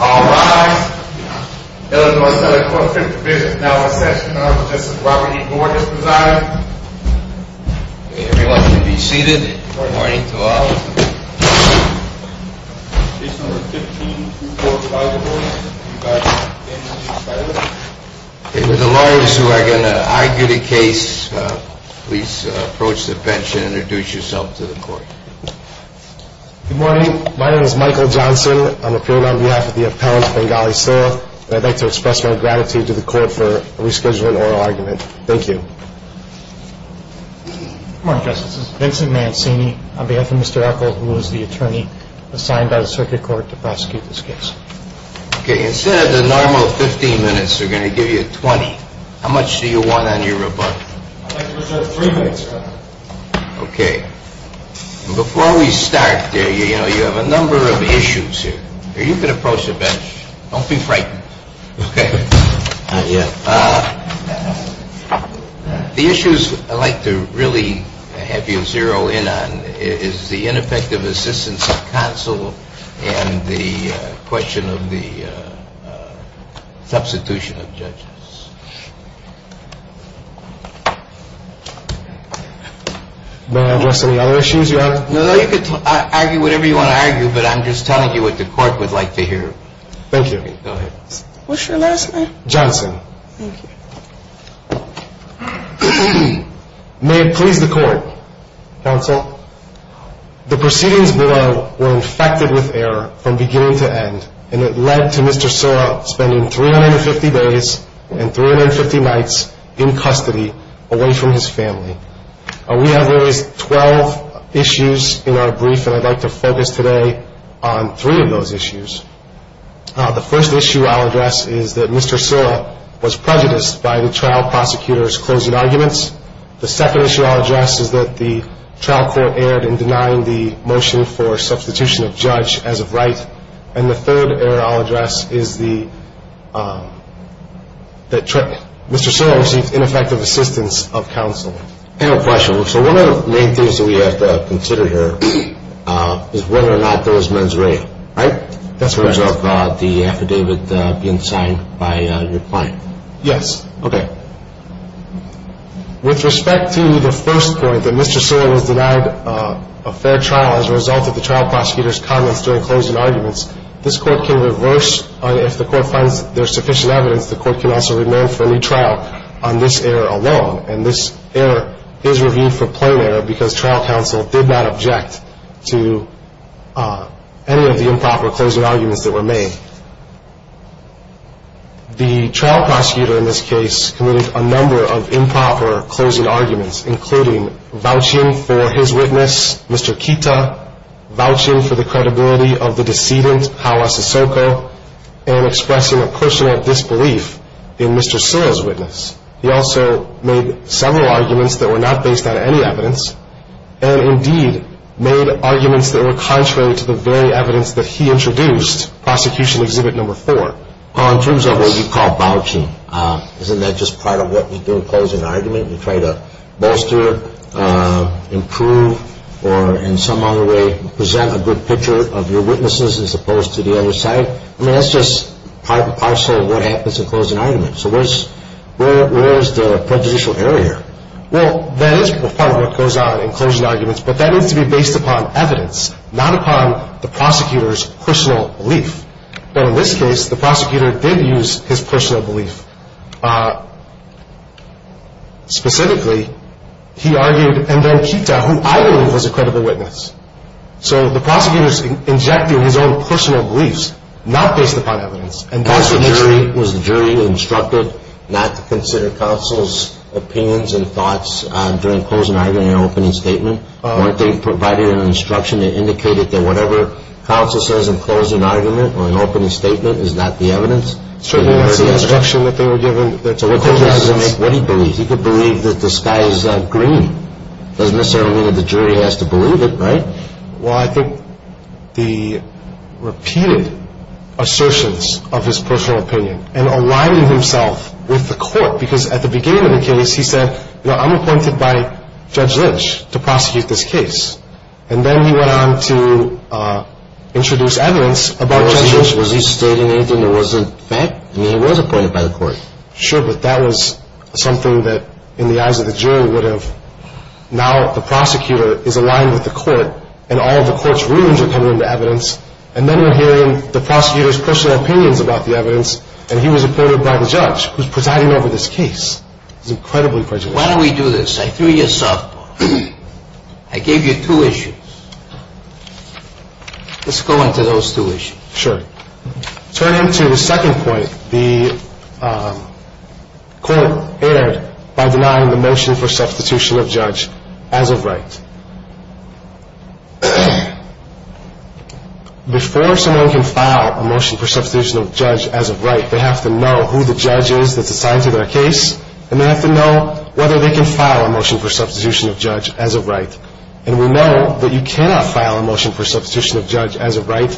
All rise. Illinois Senate Court of Appeals is now in session. I will suggest that Robert E. Gore is presiding. Everyone can be seated. Good morning to all. Case number 15, Court of Arguments. If you guys can stand and be silent. The lawyers who are going to argue the case, please approach the bench and introduce yourself to the court. Good morning. My name is Michael Johnson. I'm appearing on behalf of the appellant Bengali Sylla. I'd like to express my gratitude to the court for rescheduling oral argument. Thank you. Good morning, Justice. This is Vincent Mancini on behalf of Mr. Eccle, who is the attorney assigned by the circuit court to prosecute this case. Okay. Instead of the normal 15 minutes, we're going to give you 20. How much do you want on your rebuttal? I'd like to reserve three minutes, Your Honor. Okay. Before we start, you know, you have a number of issues here. You can approach the bench. Don't be frightened. Okay. The issues I'd like to really have you zero in on is the ineffective assistance of counsel and the question of the substitution of judges. May I address any other issues, Your Honor? No, you can argue whatever you want to argue, but I'm just telling you what the court would like to hear. Thank you. Go ahead. What's your last name? Johnson. Thank you. May it please the court, counsel, the proceedings below were infected with error from beginning to end, and it led to Mr. Sylla spending 350 days and 350 nights in custody away from his family. We have always 12 issues in our brief, and I'd like to focus today on three of those issues. The first issue I'll address is that Mr. Sylla was prejudiced by the trial prosecutor's closing arguments. The second issue I'll address is that the trial court erred in denying the motion for substitution of judge as of right. And the third error I'll address is that Mr. Sylla received ineffective assistance of counsel. I have a question. So one of the main things that we have to consider here is whether or not those men's rape, right? That's correct. As a result of the affidavit being signed by your client. Yes. Okay. With respect to the first point, that Mr. Sylla was denied a fair trial as a result of the trial prosecutor's comments during closing arguments, this court can reverse, if the court finds there's sufficient evidence, the court can also remain for a new trial on this error alone. And this error is reviewed for plain error because trial counsel did not object to any of the improper closing arguments that were made. The trial prosecutor in this case committed a number of improper closing arguments, including vouching for his witness, Mr. Kita, vouching for the credibility of the decedent, Hau Asasoko, and expressing a personal disbelief in Mr. Sylla's witness. He also made several arguments that were not based on any evidence, and indeed made arguments that were contrary to the very evidence that he introduced, prosecution exhibit number four. In terms of what you call vouching, isn't that just part of what we do in closing an argument? We try to bolster, improve, or in some other way present a good picture of your witnesses as opposed to the other side? I mean, that's just part and parcel of what happens in closing arguments. So where's the prejudicial error here? Well, that is part of what goes on in closing arguments, but that needs to be based upon evidence, not upon the prosecutor's personal belief. But in this case, the prosecutor did use his personal belief. Specifically, he argued, and then Kita, who I believe was a credible witness. So the prosecutor's injecting his own personal beliefs, not based upon evidence. Was the jury instructed not to consider counsel's opinions and thoughts during closing argument and opening statement? Weren't they provided an instruction that indicated that whatever counsel says in closing argument or in opening statement is not the evidence? Certainly, that's the instruction that they were given. So what did he believe? He could believe that the sky is not green. Doesn't necessarily mean that the jury has to believe it, right? Well, I think the repeated assertions of his personal opinion and aligning himself with the court. Because at the beginning of the case, he said, you know, I'm appointed by Judge Lynch to prosecute this case. And then he went on to introduce evidence about Judge Lynch. Was he stating anything that wasn't fact? I mean, he was appointed by the court. Sure, but that was something that in the eyes of the jury would have. Now the prosecutor is aligned with the court, and all of the court's rulings are coming into evidence. And then we're hearing the prosecutor's personal opinions about the evidence, and he was appointed by the judge, who's presiding over this case. It's incredibly prejudicial. Why don't we do this? I threw you a softball. I gave you two issues. Let's go into those two issues. Sure. Turning to the second point, the court erred by denying the motion for substitution of judge as of right. Before someone can file a motion for substitution of judge as of right, they have to know who the judge is that's assigned to their case, and they have to know whether they can file a motion for substitution of judge as of right. And we know that you cannot file a motion for substitution of judge as of right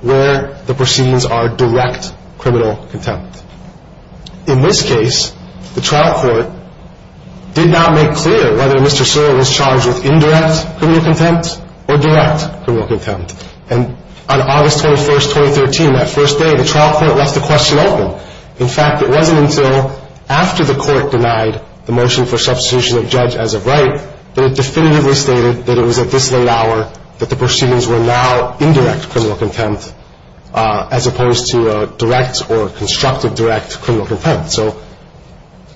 where the proceedings are direct criminal contempt. In this case, the trial court did not make clear whether Mr. Sewell was charged with indirect criminal contempt or direct criminal contempt. And on August 21, 2013, that first day, the trial court left the question open. In fact, it wasn't until after the court denied the motion for substitution of judge as of right that it definitively stated that it was at this late hour that the proceedings were now indirect criminal contempt, as opposed to a direct or constructive direct criminal contempt. So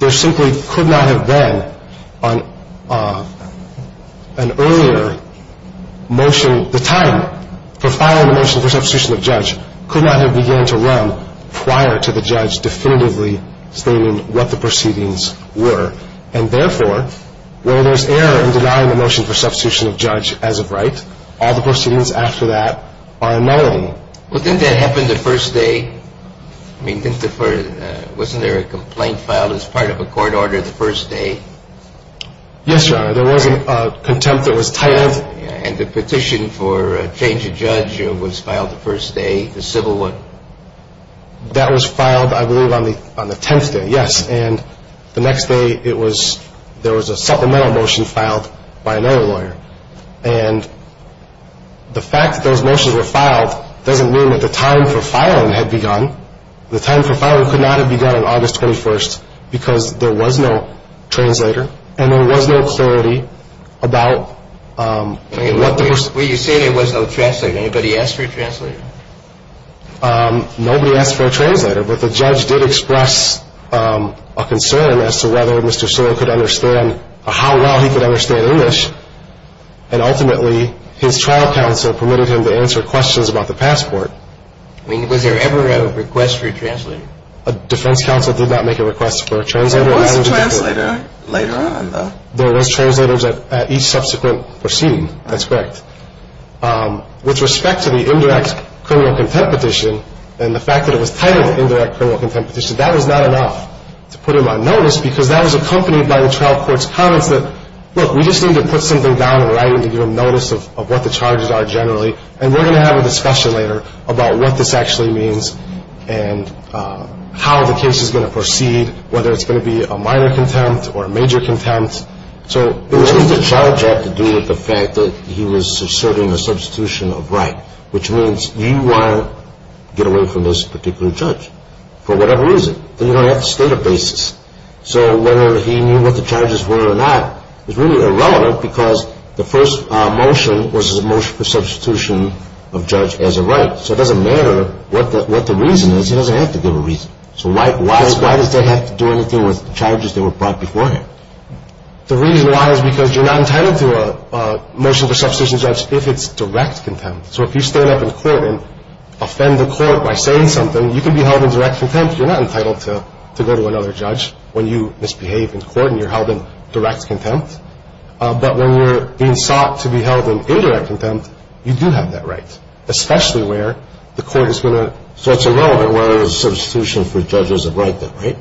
there simply could not have been an earlier motion. And the time for filing the motion for substitution of judge could not have began to run prior to the judge definitively stating what the proceedings were. And therefore, where there's error in denying the motion for substitution of judge as of right, all the proceedings after that are unknown. Well, didn't that happen the first day? I mean, didn't the first — wasn't there a complaint filed as part of a court order the first day? Yes, Your Honor. There was a contempt that was titled. And the petition for a change of judge was filed the first day? The civil one? That was filed, I believe, on the 10th day, yes. And the next day, there was a supplemental motion filed by another lawyer. And the fact that those motions were filed doesn't mean that the time for filing had begun. The time for filing could not have begun on August 21 because there was no translator and there was no clarity about what the — You say there was no translator. Anybody ask for a translator? Nobody asked for a translator. But the judge did express a concern as to whether Mr. Sewell could understand — how well he could understand English. And ultimately, his trial counsel permitted him to answer questions about the passport. Was there ever a request for a translator? A defense counsel did not make a request for a translator. There was a translator later on, though. There was translators at each subsequent proceeding. That's correct. With respect to the indirect criminal contempt petition and the fact that it was titled indirect criminal contempt petition, that was not enough to put him on notice because that was accompanied by the trial court's comments that, look, we just need to put something down in writing to give him notice of what the charges are generally, and we're going to have a discussion later about what this actually means and how the case is going to proceed, whether it's going to be a minor contempt or a major contempt. So what does the charge have to do with the fact that he was asserting a substitution of right, which means you want to get away from this particular judge for whatever reason? Then you're going to have to state a basis. So whether he knew what the charges were or not is really irrelevant because the first motion was a motion for substitution of judge as a right. So it doesn't matter what the reason is. He doesn't have to give a reason. So why does that have to do anything with the charges that were brought before him? The reason why is because you're not entitled to a motion for substitution of judge if it's direct contempt. So if you stand up in court and offend the court by saying something, you can be held in direct contempt. You're not entitled to go to another judge when you misbehave in court and you're held in direct contempt. But when you're being sought to be held in indirect contempt, you do have that right, especially where the court is going to. So it's irrelevant whether it was a substitution for judges of right though, right?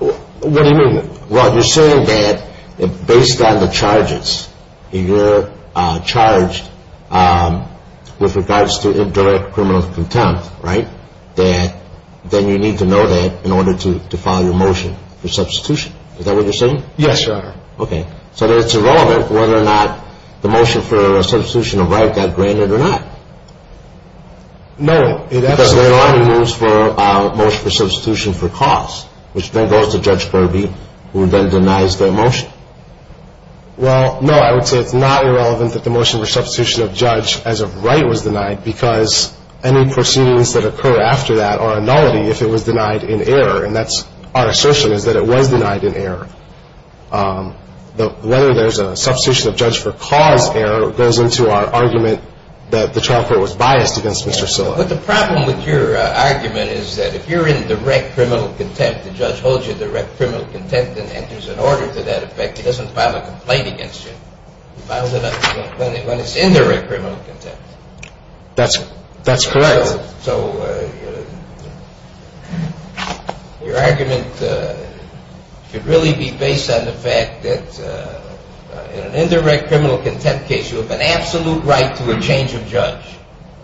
What do you mean? Well, you're saying that based on the charges, you're charged with regards to indirect criminal contempt, right? That then you need to know that in order to file your motion for substitution. Is that what you're saying? Yes, Your Honor. Okay. So it's irrelevant whether or not the motion for substitution of right got granted or not? No. Because there are no rules for a motion for substitution for cause, which then goes to Judge Kirby, who then denies their motion. Well, no, I would say it's not irrelevant that the motion for substitution of judge as of right was denied because any proceedings that occur after that are a nullity if it was denied in error. And that's our assertion is that it was denied in error. Whether there's a substitution of judge for cause error goes into our argument that the trial court was biased against Mr. Silla. But the problem with your argument is that if you're in direct criminal contempt, the judge holds you in direct criminal contempt and enters an order to that effect, he doesn't file a complaint against you. He files it when it's indirect criminal contempt. That's correct. So your argument should really be based on the fact that in an indirect criminal contempt case, you have an absolute right to a change of judge.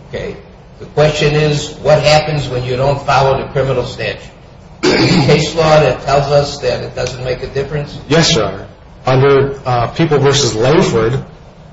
Okay? The question is, what happens when you don't follow the criminal statute? Is there a case law that tells us that it doesn't make a difference? Yes, Your Honor. Under People v. Langford,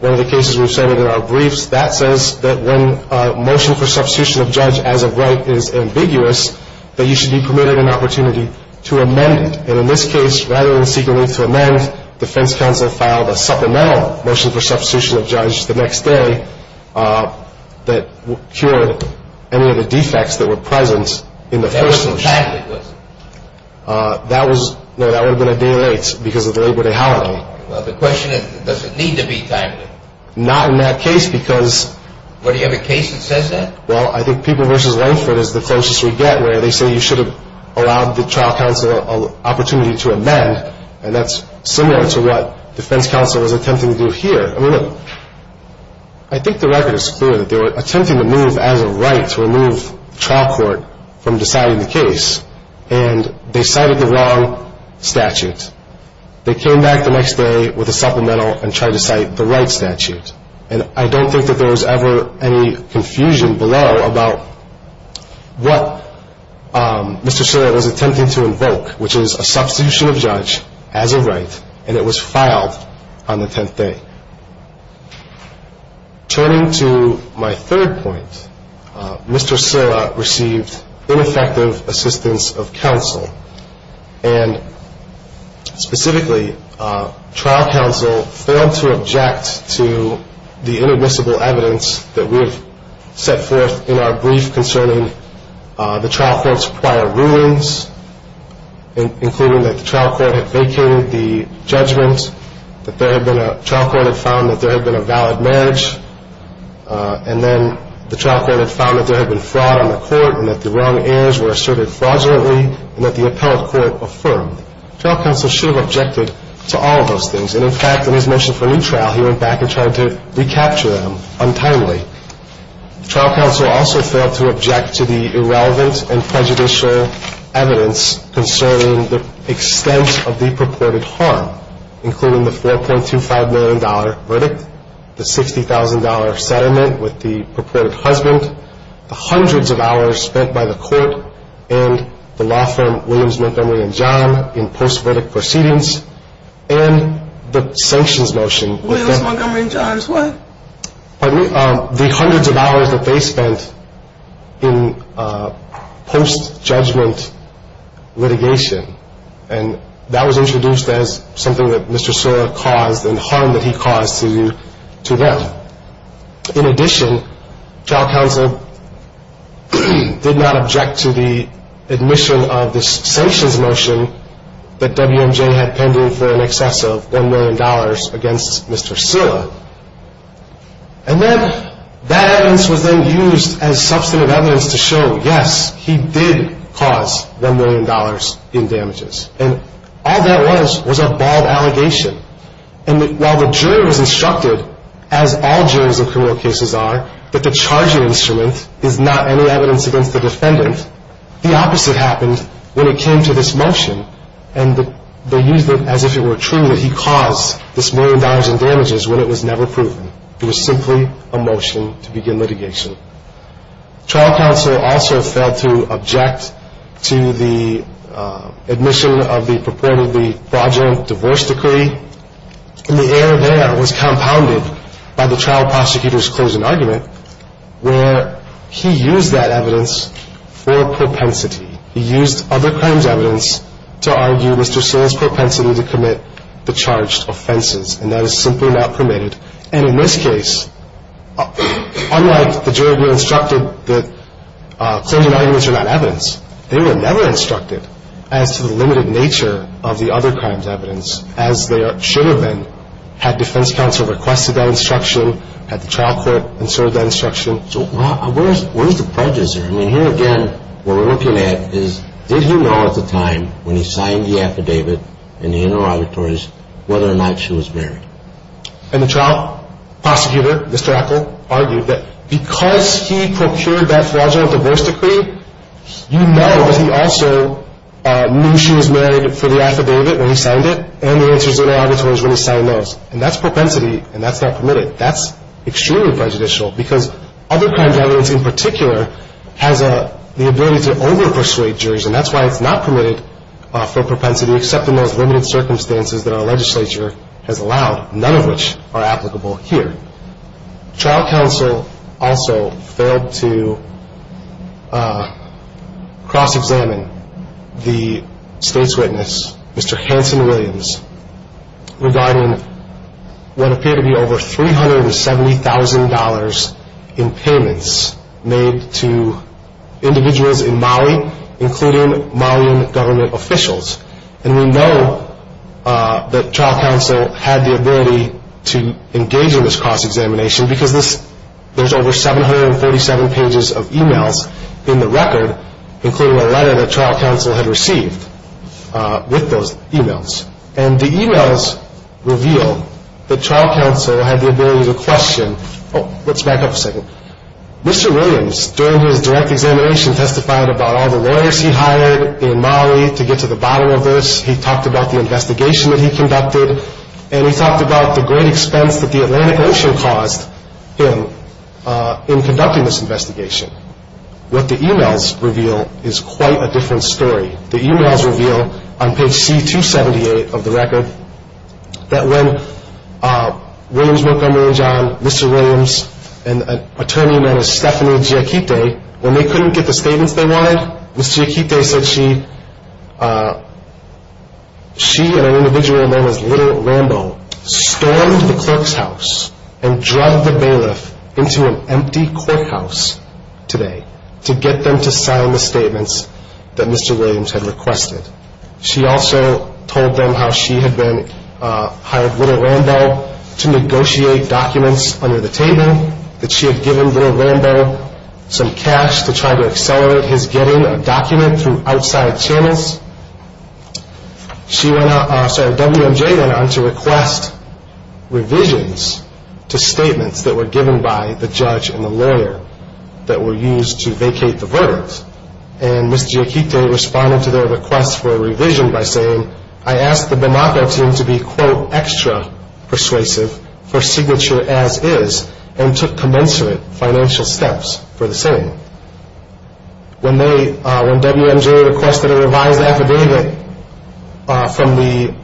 one of the cases we've cited in our briefs, that says that when a motion for substitution of judge as of right is ambiguous, that you should be permitted an opportunity to amend it. And in this case, rather than seeking to amend, defense counsel filed a supplemental motion for substitution of judge the next day that cured any of the defects that were present in the first motion. That was a timely question. No, that would have been a day late because of the Labor Day holiday. Well, the question is, does it need to be timely? Not in that case because... What, do you have a case that says that? Well, I think People v. Langford is the closest we get, where they say you should have allowed the trial counsel an opportunity to amend, and that's similar to what defense counsel was attempting to do here. I mean, look, I think the record is clear that they were attempting to move as of right to remove trial court from deciding the case, and they cited the wrong statute. They came back the next day with a supplemental and tried to cite the right statute. And I don't think that there was ever any confusion below about what Mr. Silla was attempting to invoke, which is a substitution of judge as of right, and it was filed on the 10th day. Turning to my third point, Mr. Silla received ineffective assistance of counsel, and specifically trial counsel failed to object to the inadmissible evidence that we have set forth in our brief concerning the trial court's prior rulings, including that the trial court had vacated the judgment, that the trial court had found that there had been a valid marriage, and then the trial court had found that there had been fraud on the court and that the wrong errors were asserted fraudulently, and that the appellate court affirmed. Trial counsel should have objected to all of those things. And, in fact, in his motion for retrial, he went back and tried to recapture them untimely. Trial counsel also failed to object to the irrelevant and prejudicial evidence concerning the extent of the purported harm, including the $4.25 million verdict, the $60,000 settlement with the purported husband, the hundreds of hours spent by the court and the law firm Williams, Montgomery & Johns in post-verdict proceedings, and the sanctions motion. Williams, Montgomery & Johns, what? Pardon me. The hundreds of hours that they spent in post-judgment litigation, and that was introduced as something that Mr. Scylla caused and the harm that he caused to them. In addition, trial counsel did not object to the admission of the sanctions motion that WMJ had pending for in excess of $1 million against Mr. Scylla. And that evidence was then used as substantive evidence to show, yes, he did cause $1 million in damages. And all that was was a bald allegation. And while the jury was instructed, as all juries in criminal cases are, that the charging instrument is not any evidence against the defendant, the opposite happened when it came to this motion. And they used it as if it were true that he caused this $1 million in damages when it was never proven. It was simply a motion to begin litigation. Trial counsel also failed to object to the admission of the purported fraudulent divorce decree. And the error there was compounded by the trial prosecutor's closing argument where he used that evidence for propensity. He used other crimes evidence to argue Mr. Scylla's propensity to commit the charged offenses, and that is simply not permitted. And in this case, unlike the jury were instructed that closing arguments are not evidence, they were never instructed as to the limited nature of the other crimes evidence, as they should have been had defense counsel requested that instruction, had the trial court insert that instruction. So where's the prejudice there? I mean, here again, what we're looking at is, did he know at the time when he signed the affidavit in the interauditories whether or not she was married? And the trial prosecutor, Mr. Eccle, argued that because he procured that fraudulent divorce decree, you know that he also knew she was married for the affidavit when he signed it and the answers in the auditories when he signed those. And that's propensity, and that's not permitted. That's extremely prejudicial because other crimes evidence in particular has the ability to over-persuade juries, and that's why it's not permitted for propensity except in those limited circumstances that our legislature has allowed, none of which are applicable here. Trial counsel also failed to cross-examine the state's witness, Mr. Hanson Williams, regarding what appeared to be over $370,000 in payments made to individuals in Maui, including Mauian government officials. And we know that trial counsel had the ability to engage in this cross-examination because there's over 747 pages of e-mails in the record, including a letter that trial counsel had received with those e-mails. And the e-mails reveal that trial counsel had the ability to question. Oh, let's back up a second. Mr. Williams, during his direct examination, testified about all the lawyers he hired in Maui to get to the bottom of this. He talked about the investigation that he conducted, and he talked about the great expense that the Atlantic Ocean caused him in conducting this investigation. What the e-mails reveal is quite a different story. The e-mails reveal on page C278 of the record that when Williams, Montgomery & John, Mr. Williams, and an attorney known as Stephanie Giacchitti, when they couldn't get the statements they wanted, Ms. Giacchitti said she and an individual known as Little Rambo stormed the clerk's house and drug the bailiff into an empty courthouse today to get them to sign the statements that Mr. Williams had requested. She also told them how she had hired Little Rambo to negotiate documents under the table, that she had given Little Rambo some cash to try to accelerate his getting a document through outside channels. WMJ went on to request revisions to statements that were given by the judge and the lawyer that were used to vacate the verdict. And Ms. Giacchitti responded to their request for a revision by saying, I asked the Binocco team to be, quote, extra persuasive for signature as is, and took commensurate financial steps for the same. When WMJ requested a revised affidavit from the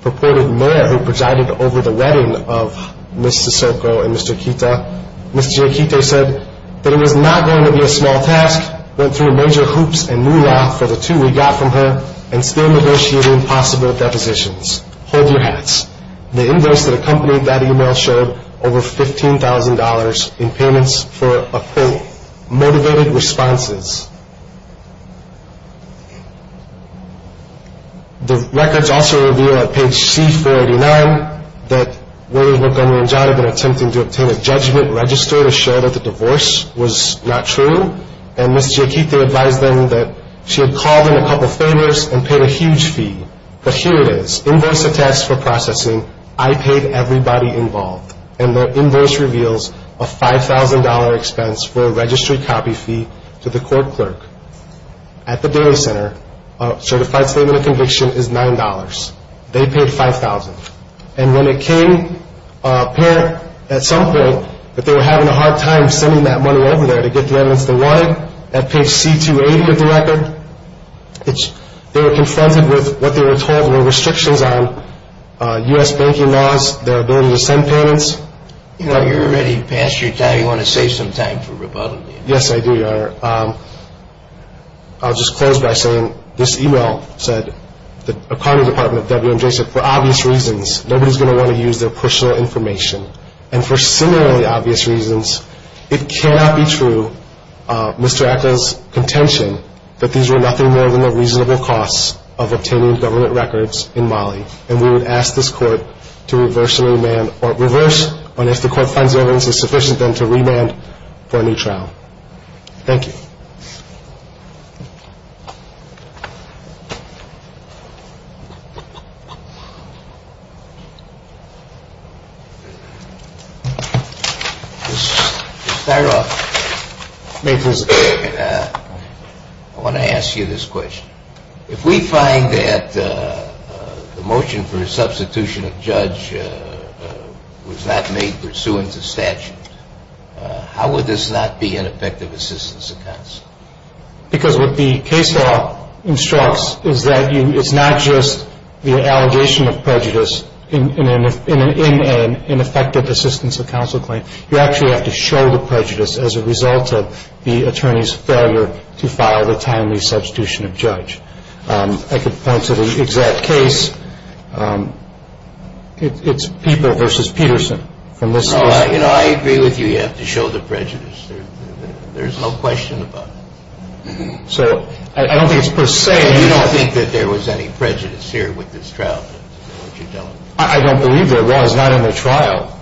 purported mayor who presided over the wedding of Ms. Sicilco and Mr. Kita, Ms. Giacchitti said that it was not going to be a small task, went through major hoops and moolah for the two we got from her, and still negotiated impossible depositions. Hold your hats. The invoice that accompanied that email showed over $15,000 in payments for motivated responses. The records also reveal on page C-489 that WMJ had been attempting to obtain a judgment register to show that the divorce was not true, and Ms. Giacchitti advised them that she had called in a couple of faders and paid a huge fee. But here it is. Invoice attests for processing. I paid everybody involved. And the invoice reveals a $5,000 expense for a registry copy fee to the court clerk. At the data center, a certified statement of conviction is $9. They paid $5,000. And when it came apparent at some point that they were having a hard time sending that money over there to get the evidence they wanted, at page C-280 of the record, they were confronted with what they were told were restrictions on U.S. banking laws, their ability to send payments. You know, you're already past your time. You want to save some time for rebuttal. Yes, I do, Your Honor. I'll just close by saying this e-mail said the Attorney Department of WMJ said, for obvious reasons, nobody's going to want to use their personal information. And for similarly obvious reasons, it cannot be true, Mr. Atka's contention, that these were nothing more than the reasonable costs of obtaining government records in Mali. And we would ask this court to reverse and remand, or reverse, but if the court finds the evidence is sufficient, then to remand for a new trial. Thank you. Mr. Stiroff, I want to ask you this question. If we find that the motion for a substitution of judge was not made pursuant to statute, how would this not be an effective assistance of counsel? Because what the case law instructs is that it's not just the allegation of prejudice in an ineffective assistance of counsel claim. You actually have to show the prejudice as a result of the attorney's failure to file the timely substitution of judge. I could point to the exact case. It's People v. Peterson from this case. No, you know, I agree with you. You have to show the prejudice. There's no question about it. So I don't think it's per se. You don't think that there was any prejudice here with this trial? I don't believe there was, not in the trial.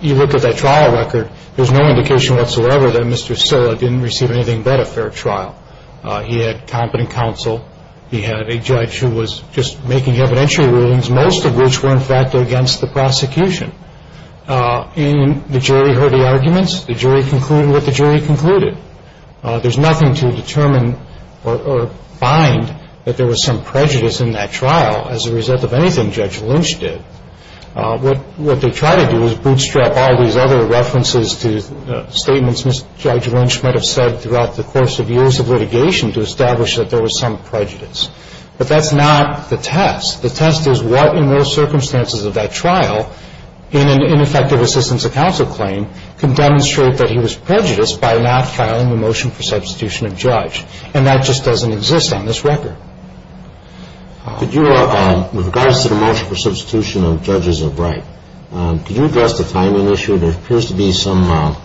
You look at that trial record, there's no indication whatsoever that Mr. Silla didn't receive anything but a fair trial. He had competent counsel. He had a judge who was just making evidentiary rulings, most of which were, in fact, against the prosecution. And the jury heard the arguments. The jury concluded what the jury concluded. There's nothing to determine or find that there was some prejudice in that trial as a result of anything Judge Lynch did. What they try to do is bootstrap all these other references to statements Judge Lynch might have said throughout the course of years of litigation to establish that there was some prejudice. But that's not the test. The test is what, in those circumstances of that trial, in an ineffective assistance of counsel claim, can demonstrate that he was prejudiced by not filing the motion for substitution of judge. And that just doesn't exist on this record. Could you, with regards to the motion for substitution of judges of right, could you address the timing issue? There appears to be some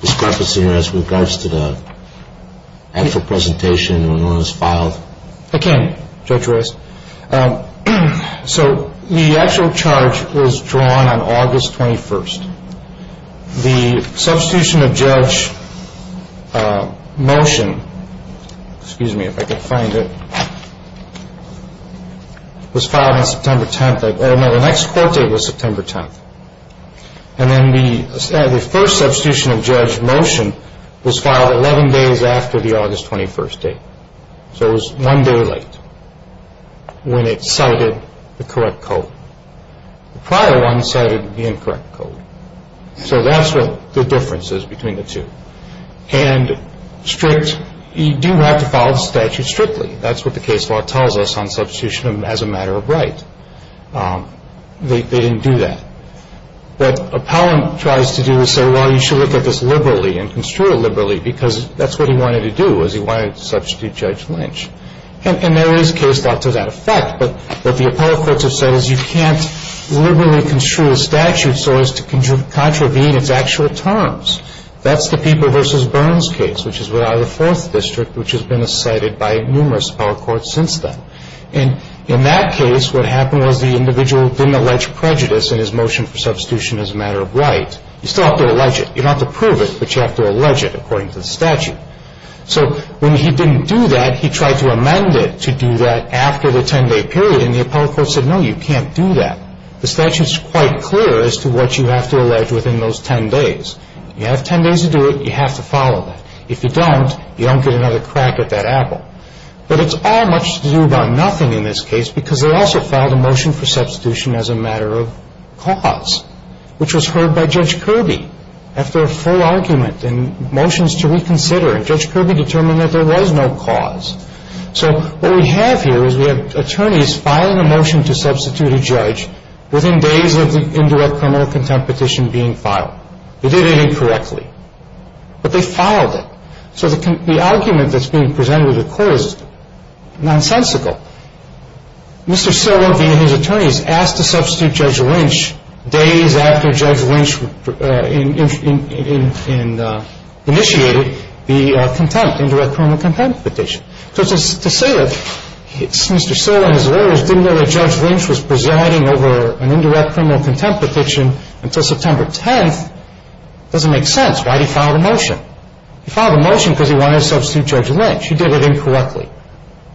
discrepancy with regards to the actual presentation when it was filed. I can, Judge Royce. So the actual charge was drawn on August 21st. The substitution of judge motion, excuse me if I can find it, was filed on September 10th. No, the next court date was September 10th. And then the first substitution of judge motion was filed 11 days after the August 21st date. So it was one day late when it cited the correct code. The prior one cited the incorrect code. So that's what the difference is between the two. And strict, you do have to file the statute strictly. That's what the case law tells us on substitution as a matter of right. They didn't do that. What Appellant tries to do is say, well, you should look at this liberally and construe it liberally because that's what he wanted to do was he wanted to substitute Judge Lynch. And there is case law to that effect. But what the appellate courts have said is you can't liberally construe a statute so as to contravene its actual terms. That's the People v. Burns case, which is without a fourth district, which has been cited by numerous appellate courts since then. And in that case, what happened was the individual didn't allege prejudice in his motion for substitution as a matter of right. You still have to allege it. You don't have to prove it, but you have to allege it according to the statute. So when he didn't do that, he tried to amend it to do that after the 10-day period, and the appellate courts said, no, you can't do that. The statute is quite clear as to what you have to allege within those 10 days. You have 10 days to do it. You have to follow that. If you don't, you don't get another crack at that apple. But it's all much to do about nothing in this case because they also filed a motion for substitution as a matter of cause, which was heard by Judge Kirby after a full argument and motions to reconsider, and Judge Kirby determined that there was no cause. So what we have here is we have attorneys filing a motion to substitute a judge within days of the indirect criminal contempt petition being filed. They did it incorrectly, but they filed it. So the argument that's being presented to the court is nonsensical. Mr. Siller, via his attorneys, asked to substitute Judge Lynch days after Judge Lynch initiated the contempt, indirect criminal contempt petition. So to say that Mr. Siller and his lawyers didn't know that Judge Lynch was presiding over an indirect criminal contempt petition until September 10th doesn't make sense. Why did he file the motion? He filed the motion because he wanted to substitute Judge Lynch. He did it incorrectly.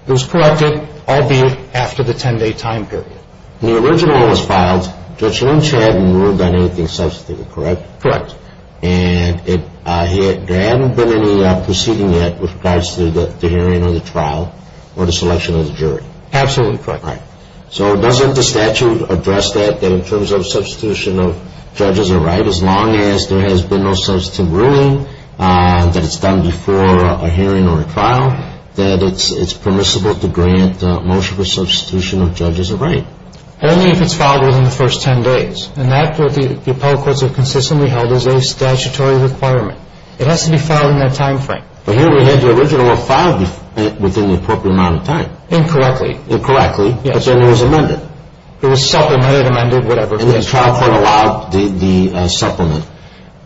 It was corrected, albeit after the 10-day time period. When the original was filed, Judge Lynch hadn't ruled on anything substantive, correct? Correct. And there hadn't been any proceeding yet with regards to the hearing or the trial or the selection of the jury? Absolutely correct. All right. So doesn't the statute address that, that in terms of substitution of judges are right as long as there has been no substantive ruling that it's done before a hearing or a trial, that it's permissible to grant motion for substitution of judges are right? Only if it's filed within the first 10 days. And that's what the appellate courts have consistently held as a statutory requirement. It has to be filed in that time frame. But here we had the original filed within the appropriate amount of time. Incorrectly. Incorrectly. But then it was amended. It was self-amended, amended, whatever. And the trial court allowed the supplement.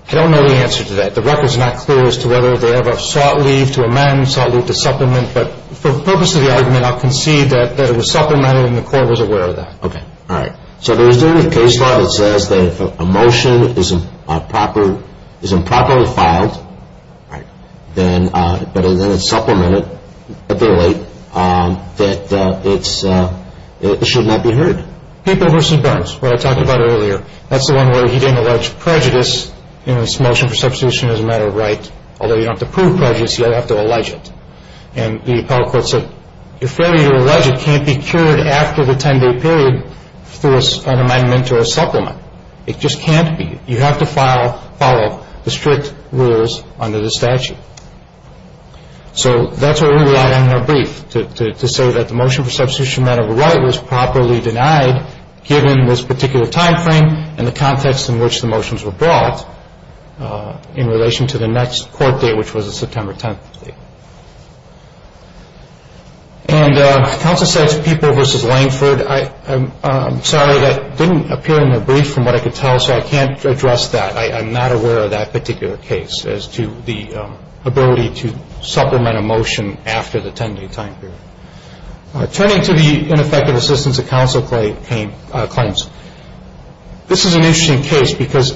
I don't know the answer to that. The record is not clear as to whether they ever sought leave to amend, sought leave to supplement. But for the purpose of the argument, I'll concede that it was supplemented and the court was aware of that. Okay. All right. So there is a case law that says that if a motion is improperly filed, but then it's supplemented, but they're late, that it should not be heard. People v. Burns, what I talked about earlier. That's the one where he didn't allege prejudice in this motion for substitution as a matter of right. Although you don't have to prove prejudice, you have to allege it. And the appellate court said, If failure to allege it can't be cured after the 10-day period through an amendment or a supplement. It just can't be. You have to follow the strict rules under the statute. So that's what we relied on in our brief, to say that the motion for substitution as a matter of right was properly denied given this particular time frame and the context in which the motions were brought in relation to the next court date, which was the September 10th date. And counsel said to People v. Langford, I'm sorry, that didn't appear in the brief from what I could tell, so I can't address that. I'm not aware of that particular case as to the ability to supplement a motion after the 10-day time period. Turning to the ineffective assistance that counsel claims, this is an interesting case because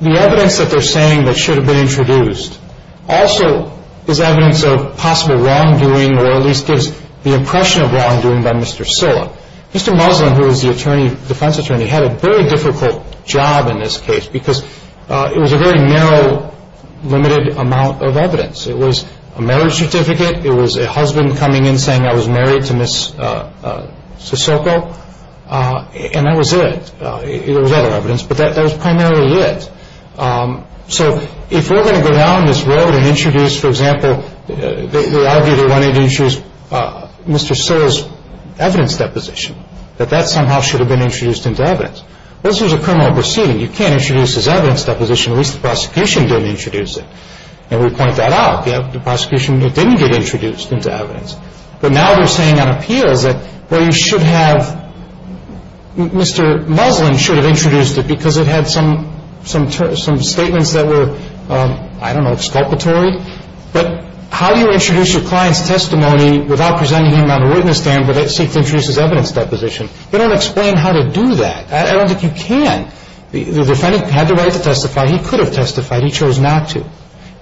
the evidence that they're saying that should have been introduced also is evidence of possible wrongdoing or at least gives the impression of wrongdoing by Mr. Silla. Mr. Muslin, who is the defense attorney, had a very difficult job in this case because it was a very narrow, limited amount of evidence. It was a marriage certificate. It was a husband coming in saying, I was married to Ms. Sissoko. And that was it. There was other evidence, but that was primarily it. So if we're going to go down this road and introduce, for example, they argue they wanted to introduce Mr. Silla's evidence deposition, that that somehow should have been introduced into evidence. This was a criminal proceeding. You can't introduce his evidence deposition, at least the prosecution didn't introduce it. And we point that out. The prosecution, it didn't get introduced into evidence. But now they're saying on appeals that, well, you should have, Mr. Muslin should have introduced it because it had some statements that were, I don't know, exculpatory. But how do you introduce your client's testimony without presenting him on a witness stand but seek to introduce his evidence deposition? They don't explain how to do that. I don't think you can. The defendant had the right to testify. He could have testified. He chose not to.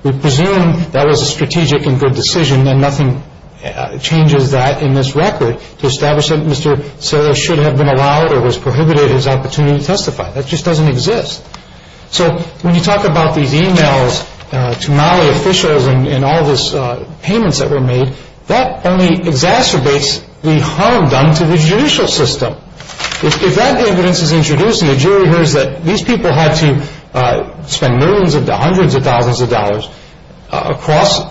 We presume that was a strategic and good decision, and nothing changes that in this record to establish that Mr. Silla should have been allowed or was prohibited his opportunity to testify. That just doesn't exist. So when you talk about these e-mails to Mali officials and all these payments that were made, that only exacerbates the harm done to the judicial system. If that evidence is introduced and the jury hears that these people had to spend millions, hundreds of thousands of dollars across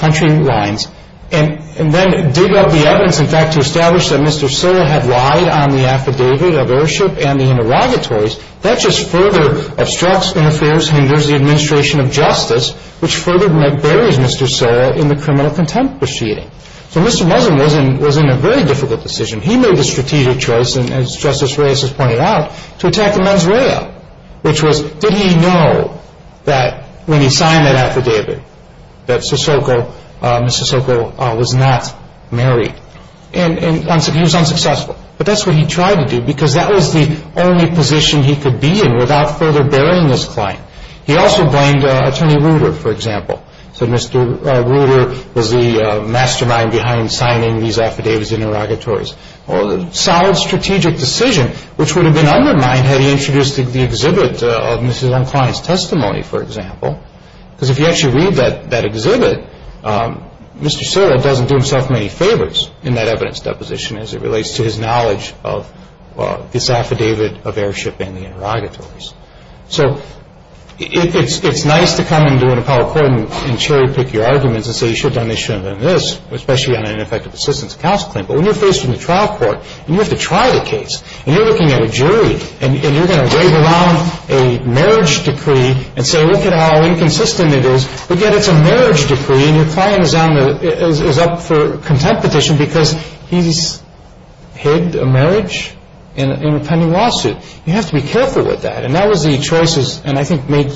country lines and then dig up the evidence, in fact, to establish that Mr. Silla had lied on the affidavit of ownership and the interrogatories, that just further obstructs, interferes, hinders the administration of justice, which further buries Mr. Silla in the criminal contempt proceeding. So Mr. Muzzin was in a very difficult decision. He made the strategic choice, and as Justice Reyes has pointed out, to attack the mens rea, which was did he know that when he signed that affidavit that Ms. Sissoko was not married. And he was unsuccessful. But that's what he tried to do because that was the only position he could be in without further burying his client. He also blamed Attorney Reuter, for example. So Mr. Reuter was the mastermind behind signing these affidavits and interrogatories. A solid strategic decision, which would have been undermined had he introduced the exhibit of Mrs. Unclein's testimony, for example. Because if you actually read that exhibit, Mr. Silla doesn't do himself many favors in that evidence deposition as it relates to his knowledge of this affidavit of airship and the interrogatories. So it's nice to come into an appellate court and cherry-pick your arguments and say you should have done this, you shouldn't have done this, especially on an ineffective assistance of counsel claim. But when you're facing the trial court, you have to try the case. And you're looking at a jury, and you're going to wave around a marriage decree and say look at how inconsistent it is. But yet it's a marriage decree, and your client is up for a content petition because he's hid a marriage in a pending lawsuit. You have to be careful with that. And that was the choices, and I think made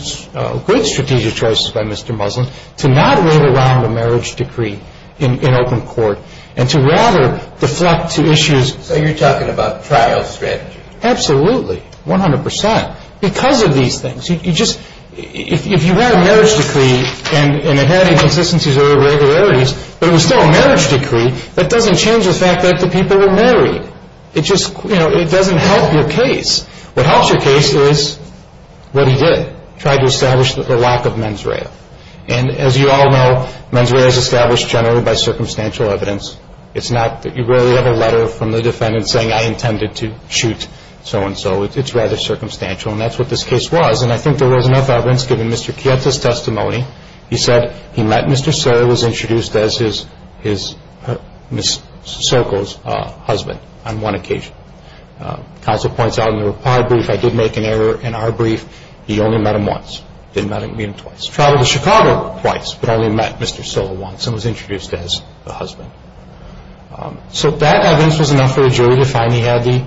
good strategic choices by Mr. Muslin, to not wave around a marriage decree in open court and to rather deflect to issues. So you're talking about trial strategy? Absolutely, 100 percent. Because of these things, if you have a marriage decree and it had inconsistencies or irregularities, but it was still a marriage decree, that doesn't change the fact that the people were married. It doesn't help your case. What helps your case is what he did, tried to establish the lack of mens rea. And as you all know, mens rea is established generally by circumstantial evidence. It's not that you really have a letter from the defendant saying I intended to shoot so-and-so. It's rather circumstantial, and that's what this case was. And I think there was enough evidence, given Mr. Chieta's testimony. He said he met Mr. Serra, was introduced as Ms. Serco's husband on one occasion. Counsel points out in the reply brief, I did make an error in our brief. He only met him once, didn't meet him twice. Traveled to Chicago twice, but only met Mr. Serra once and was introduced as the husband. So that evidence was enough for the jury to finally have the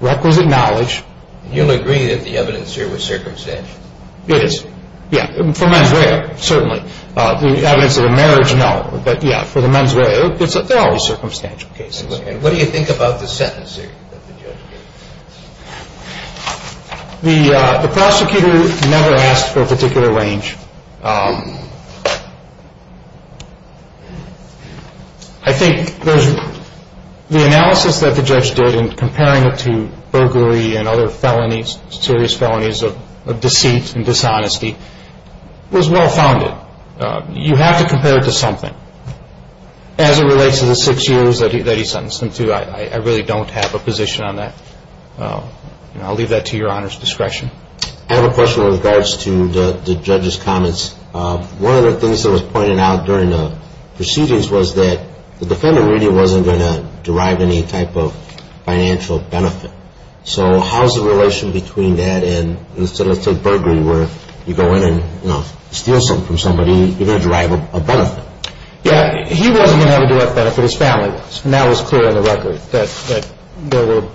requisite knowledge. You'll agree that the evidence here was circumstantial? It is. Yeah, for mens rea, certainly. The evidence of a marriage, no. But, yeah, for the mens rea, there are always circumstantial cases. And what do you think about the sentence that the judge gave? The prosecutor never asked for a particular range. I think the analysis that the judge did in comparing it to burglary and other felonies, serious felonies of deceit and dishonesty, was well-founded. You have to compare it to something. As it relates to the six years that he sentenced him to, I really don't have a position on that. I'll leave that to your Honor's discretion. I have a question with regards to the judge's comments. One of the things that was pointed out during the proceedings was that the defendant really wasn't going to derive any type of financial benefit. So how is the relation between that and let's say burglary, where you go in and steal something from somebody, you're going to derive a benefit. Yeah, he wasn't going to have a direct benefit. And that was clear on the record, that there were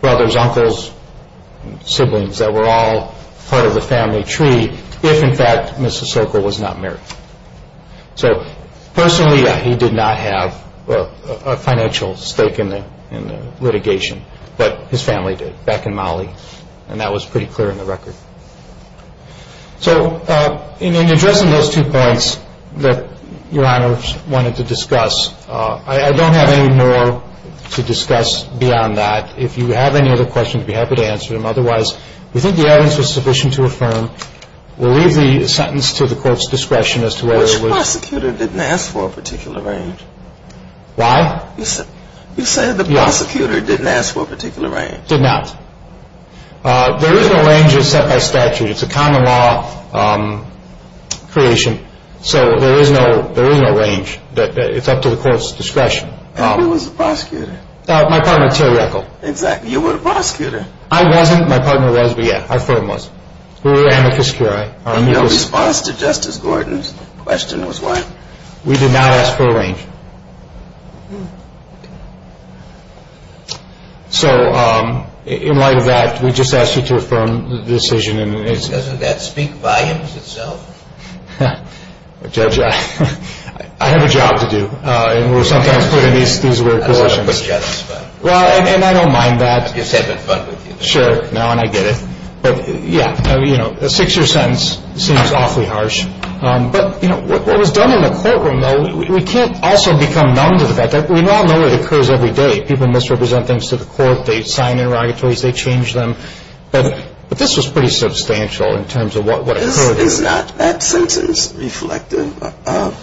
brothers, uncles, siblings, that were all part of the family tree if, in fact, Mr. Sokol was not married. So personally, yeah, he did not have a financial stake in the litigation, but his family did, back in Mali. And that was pretty clear on the record. So in addressing those two points that your Honor wanted to discuss, I don't have any more to discuss beyond that. If you have any other questions, I'd be happy to answer them. Otherwise, we think the evidence was sufficient to affirm. We'll leave the sentence to the Court's discretion as to whether it was- Which prosecutor didn't ask for a particular range? Why? You said the prosecutor didn't ask for a particular range. Did not. There is no range as set by statute. It's a common law creation, so there is no range. It's up to the Court's discretion. Probably was the prosecutor. My partner, Terry Echol. Exactly. You were the prosecutor. I wasn't. My partner was, but yeah, our firm was. We were amicus curiae. And your response to Justice Gordon's question was what? We did not ask for a range. So in light of that, we just asked you to affirm the decision. Doesn't that speak volumes itself? Judge, I have a job to do, and we're sometimes put in these weird positions. I don't know about the judge, but- Well, and I don't mind that. I'm just having fun with you. Sure. No, and I get it. But, yeah, a six-year sentence seems awfully harsh. I also become numb to the fact that we all know it occurs every day. People misrepresent things to the Court. They sign interrogatories. They change them. But this was pretty substantial in terms of what occurred. Is not that sentence reflective of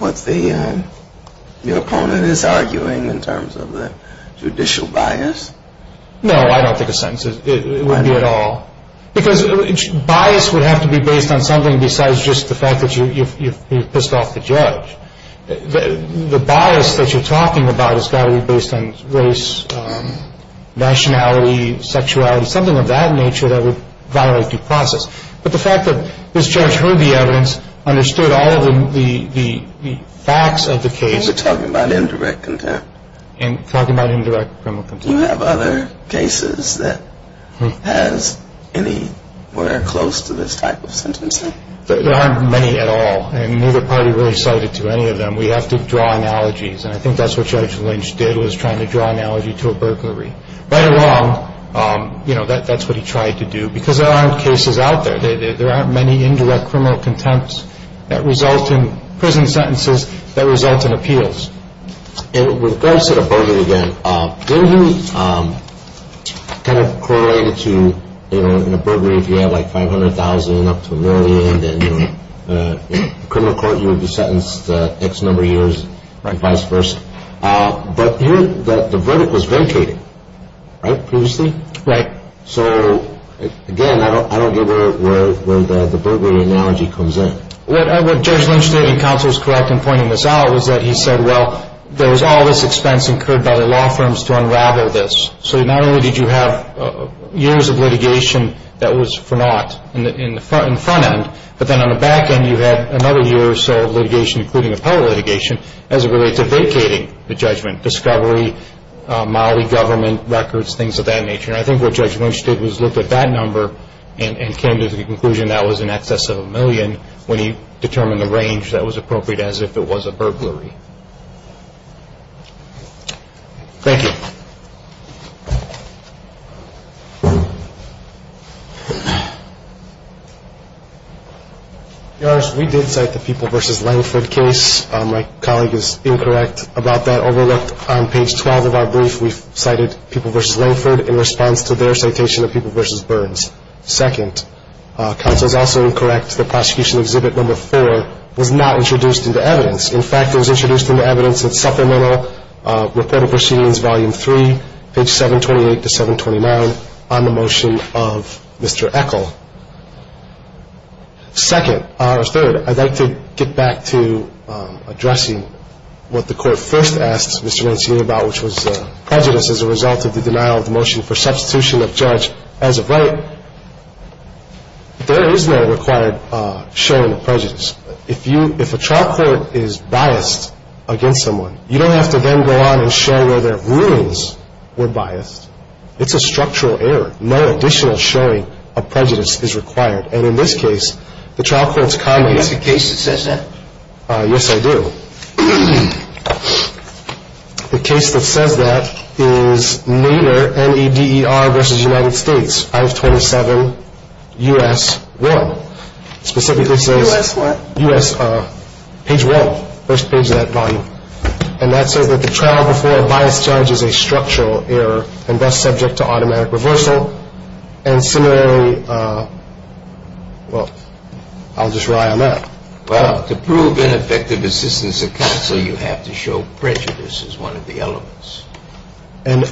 what your opponent is arguing in terms of the judicial bias? No, I don't think a sentence is. It wouldn't be at all. Because bias would have to be based on something besides just the fact that you pissed off the judge. The bias that you're talking about has got to be based on race, nationality, sexuality, something of that nature that would violate due process. But the fact that this judge heard the evidence, understood all of the facts of the case- You're talking about indirect contempt. I'm talking about indirect criminal contempt. Do you have other cases that has anywhere close to this type of sentencing? There aren't many at all, and neither party really cited to any of them. We have to draw analogies, and I think that's what Judge Lynch did, was trying to draw an analogy to a burglary. Right or wrong, that's what he tried to do, because there aren't cases out there. There aren't many indirect criminal contempts that result in prison sentences that result in appeals. And with regards to the burglary again, didn't he kind of correlate it to in a burglary if you have like 500,000 up to a million, then in a criminal court you would be sentenced X number of years and vice versa. But here the verdict was vacated, right, previously? Right. So, again, I don't get where the burglary analogy comes in. What Judge Lynch did, and counsel is correct in pointing this out, was that he said, well, there was all this expense incurred by the law firms to unravel this. So not only did you have years of litigation that was for naught in the front end, but then on the back end you had another year or so of litigation, including appellate litigation, as it relates to vacating the judgment, discovery, molly government records, things of that nature. And I think what Judge Lynch did was look at that number and came to the conclusion that was in excess of a million when he determined the range that was appropriate as if it was a burglary. Thank you. Your Honor, we did cite the People v. Langford case. My colleague is incorrect about that. Overlooked on page 12 of our brief, we cited People v. Langford in response to their citation of People v. Burns. Second, counsel is also incorrect that Prosecution Exhibit No. 4 was not introduced into evidence. In fact, it was introduced into evidence in Supplemental Report of Proceedings, Volume 3, page 728 to 729 on the motion of Mr. Echol. Second, or third, I'd like to get back to addressing what the Court first asked Mr. Rancini about, which was prejudice as a result of the denial of the motion for substitution of judge as of right. There is no required showing of prejudice. If a trial court is biased against someone, you don't have to then go on and show whether rulings were biased. It's a structural error. No additional showing of prejudice is required. And in this case, the trial court's comments – Do you have a case that says that? Yes, I do. The case that says that is Nader, N-E-D-E-R v. United States, I-27 U.S. 1. Specifically says – U.S. 1? U.S. page 1, first page of that volume. And that says that the trial before a biased judge is a structural error and thus subject to automatic reversal. And similarly – well, I'll just rely on that. Well, to prove ineffective assistance of counsel, you have to show prejudice as one of the elements. And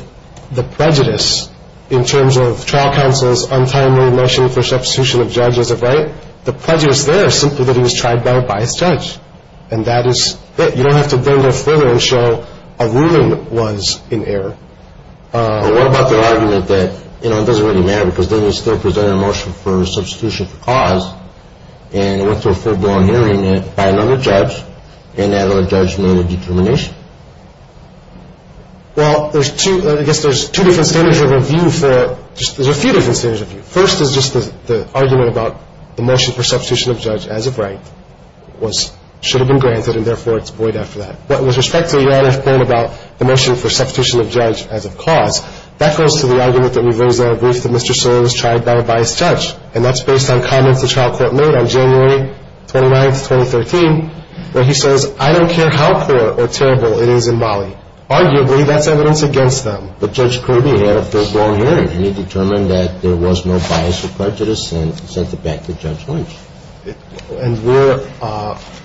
the prejudice in terms of trial counsel's untimely motion for substitution of judge as of right, the prejudice there is simply that he was tried by a biased judge. And that is it. You don't have to then go further and show a ruling was in error. What about the argument that, you know, it doesn't really matter because then you still present a motion for substitution for cause and it went through a full-blown hearing by another judge and that other judge made a determination? Well, there's two – I guess there's two different standards of review for – there's a few different standards of review. First is just the argument about the motion for substitution of judge as of right was – should have been granted and, therefore, it's void after that. But with respect to the other point about the motion for substitution of judge as of cause, that goes to the argument that we've raised on a brief that Mr. Solon was tried by a biased judge. And that's based on comments the trial court made on January 29th, 2013, where he says, I don't care how poor or terrible it is in Bali. Arguably, that's evidence against them. But Judge Kirby had a full-blown hearing and he determined that there was no bias or prejudice and sent it back to Judge Lynch. And we're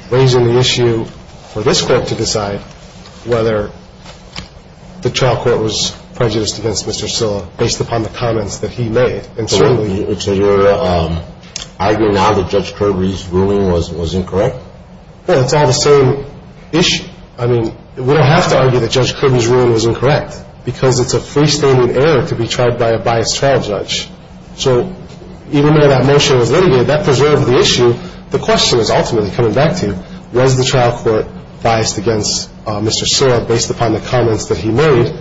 raising the issue for this Court to decide whether the trial court was prejudiced against Mr. Solon based upon the comments that he made. So you're arguing now that Judge Kirby's ruling was incorrect? Well, it's all the same issue. I mean, we don't have to argue that Judge Kirby's ruling was incorrect because it's a freestanding error to be tried by a biased trial judge. So even though that motion was litigated, that preserved the issue. The question is ultimately coming back to was the trial court biased against Mr. Solon based upon the comments that he made?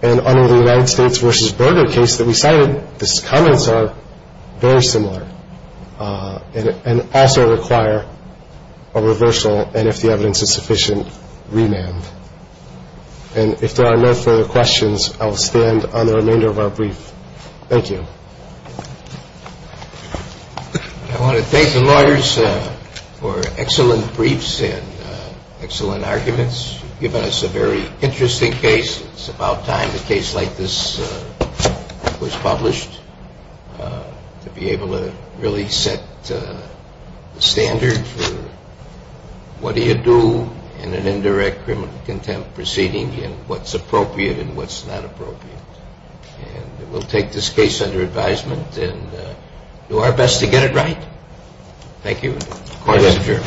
And under the United States v. Berger case that we cited, his comments are very similar and also require a reversal and, if the evidence is sufficient, remand. And if there are no further questions, I will stand on the remainder of our brief. Thank you. I want to thank the lawyers for excellent briefs and excellent arguments. You've given us a very interesting case. It's about time a case like this was published to be able to really set the standard for what do you do in an indirect criminal contempt proceeding and what's appropriate and what's not appropriate. And we'll take this case under advisement and do our best to get it right. Thank you. Thank you.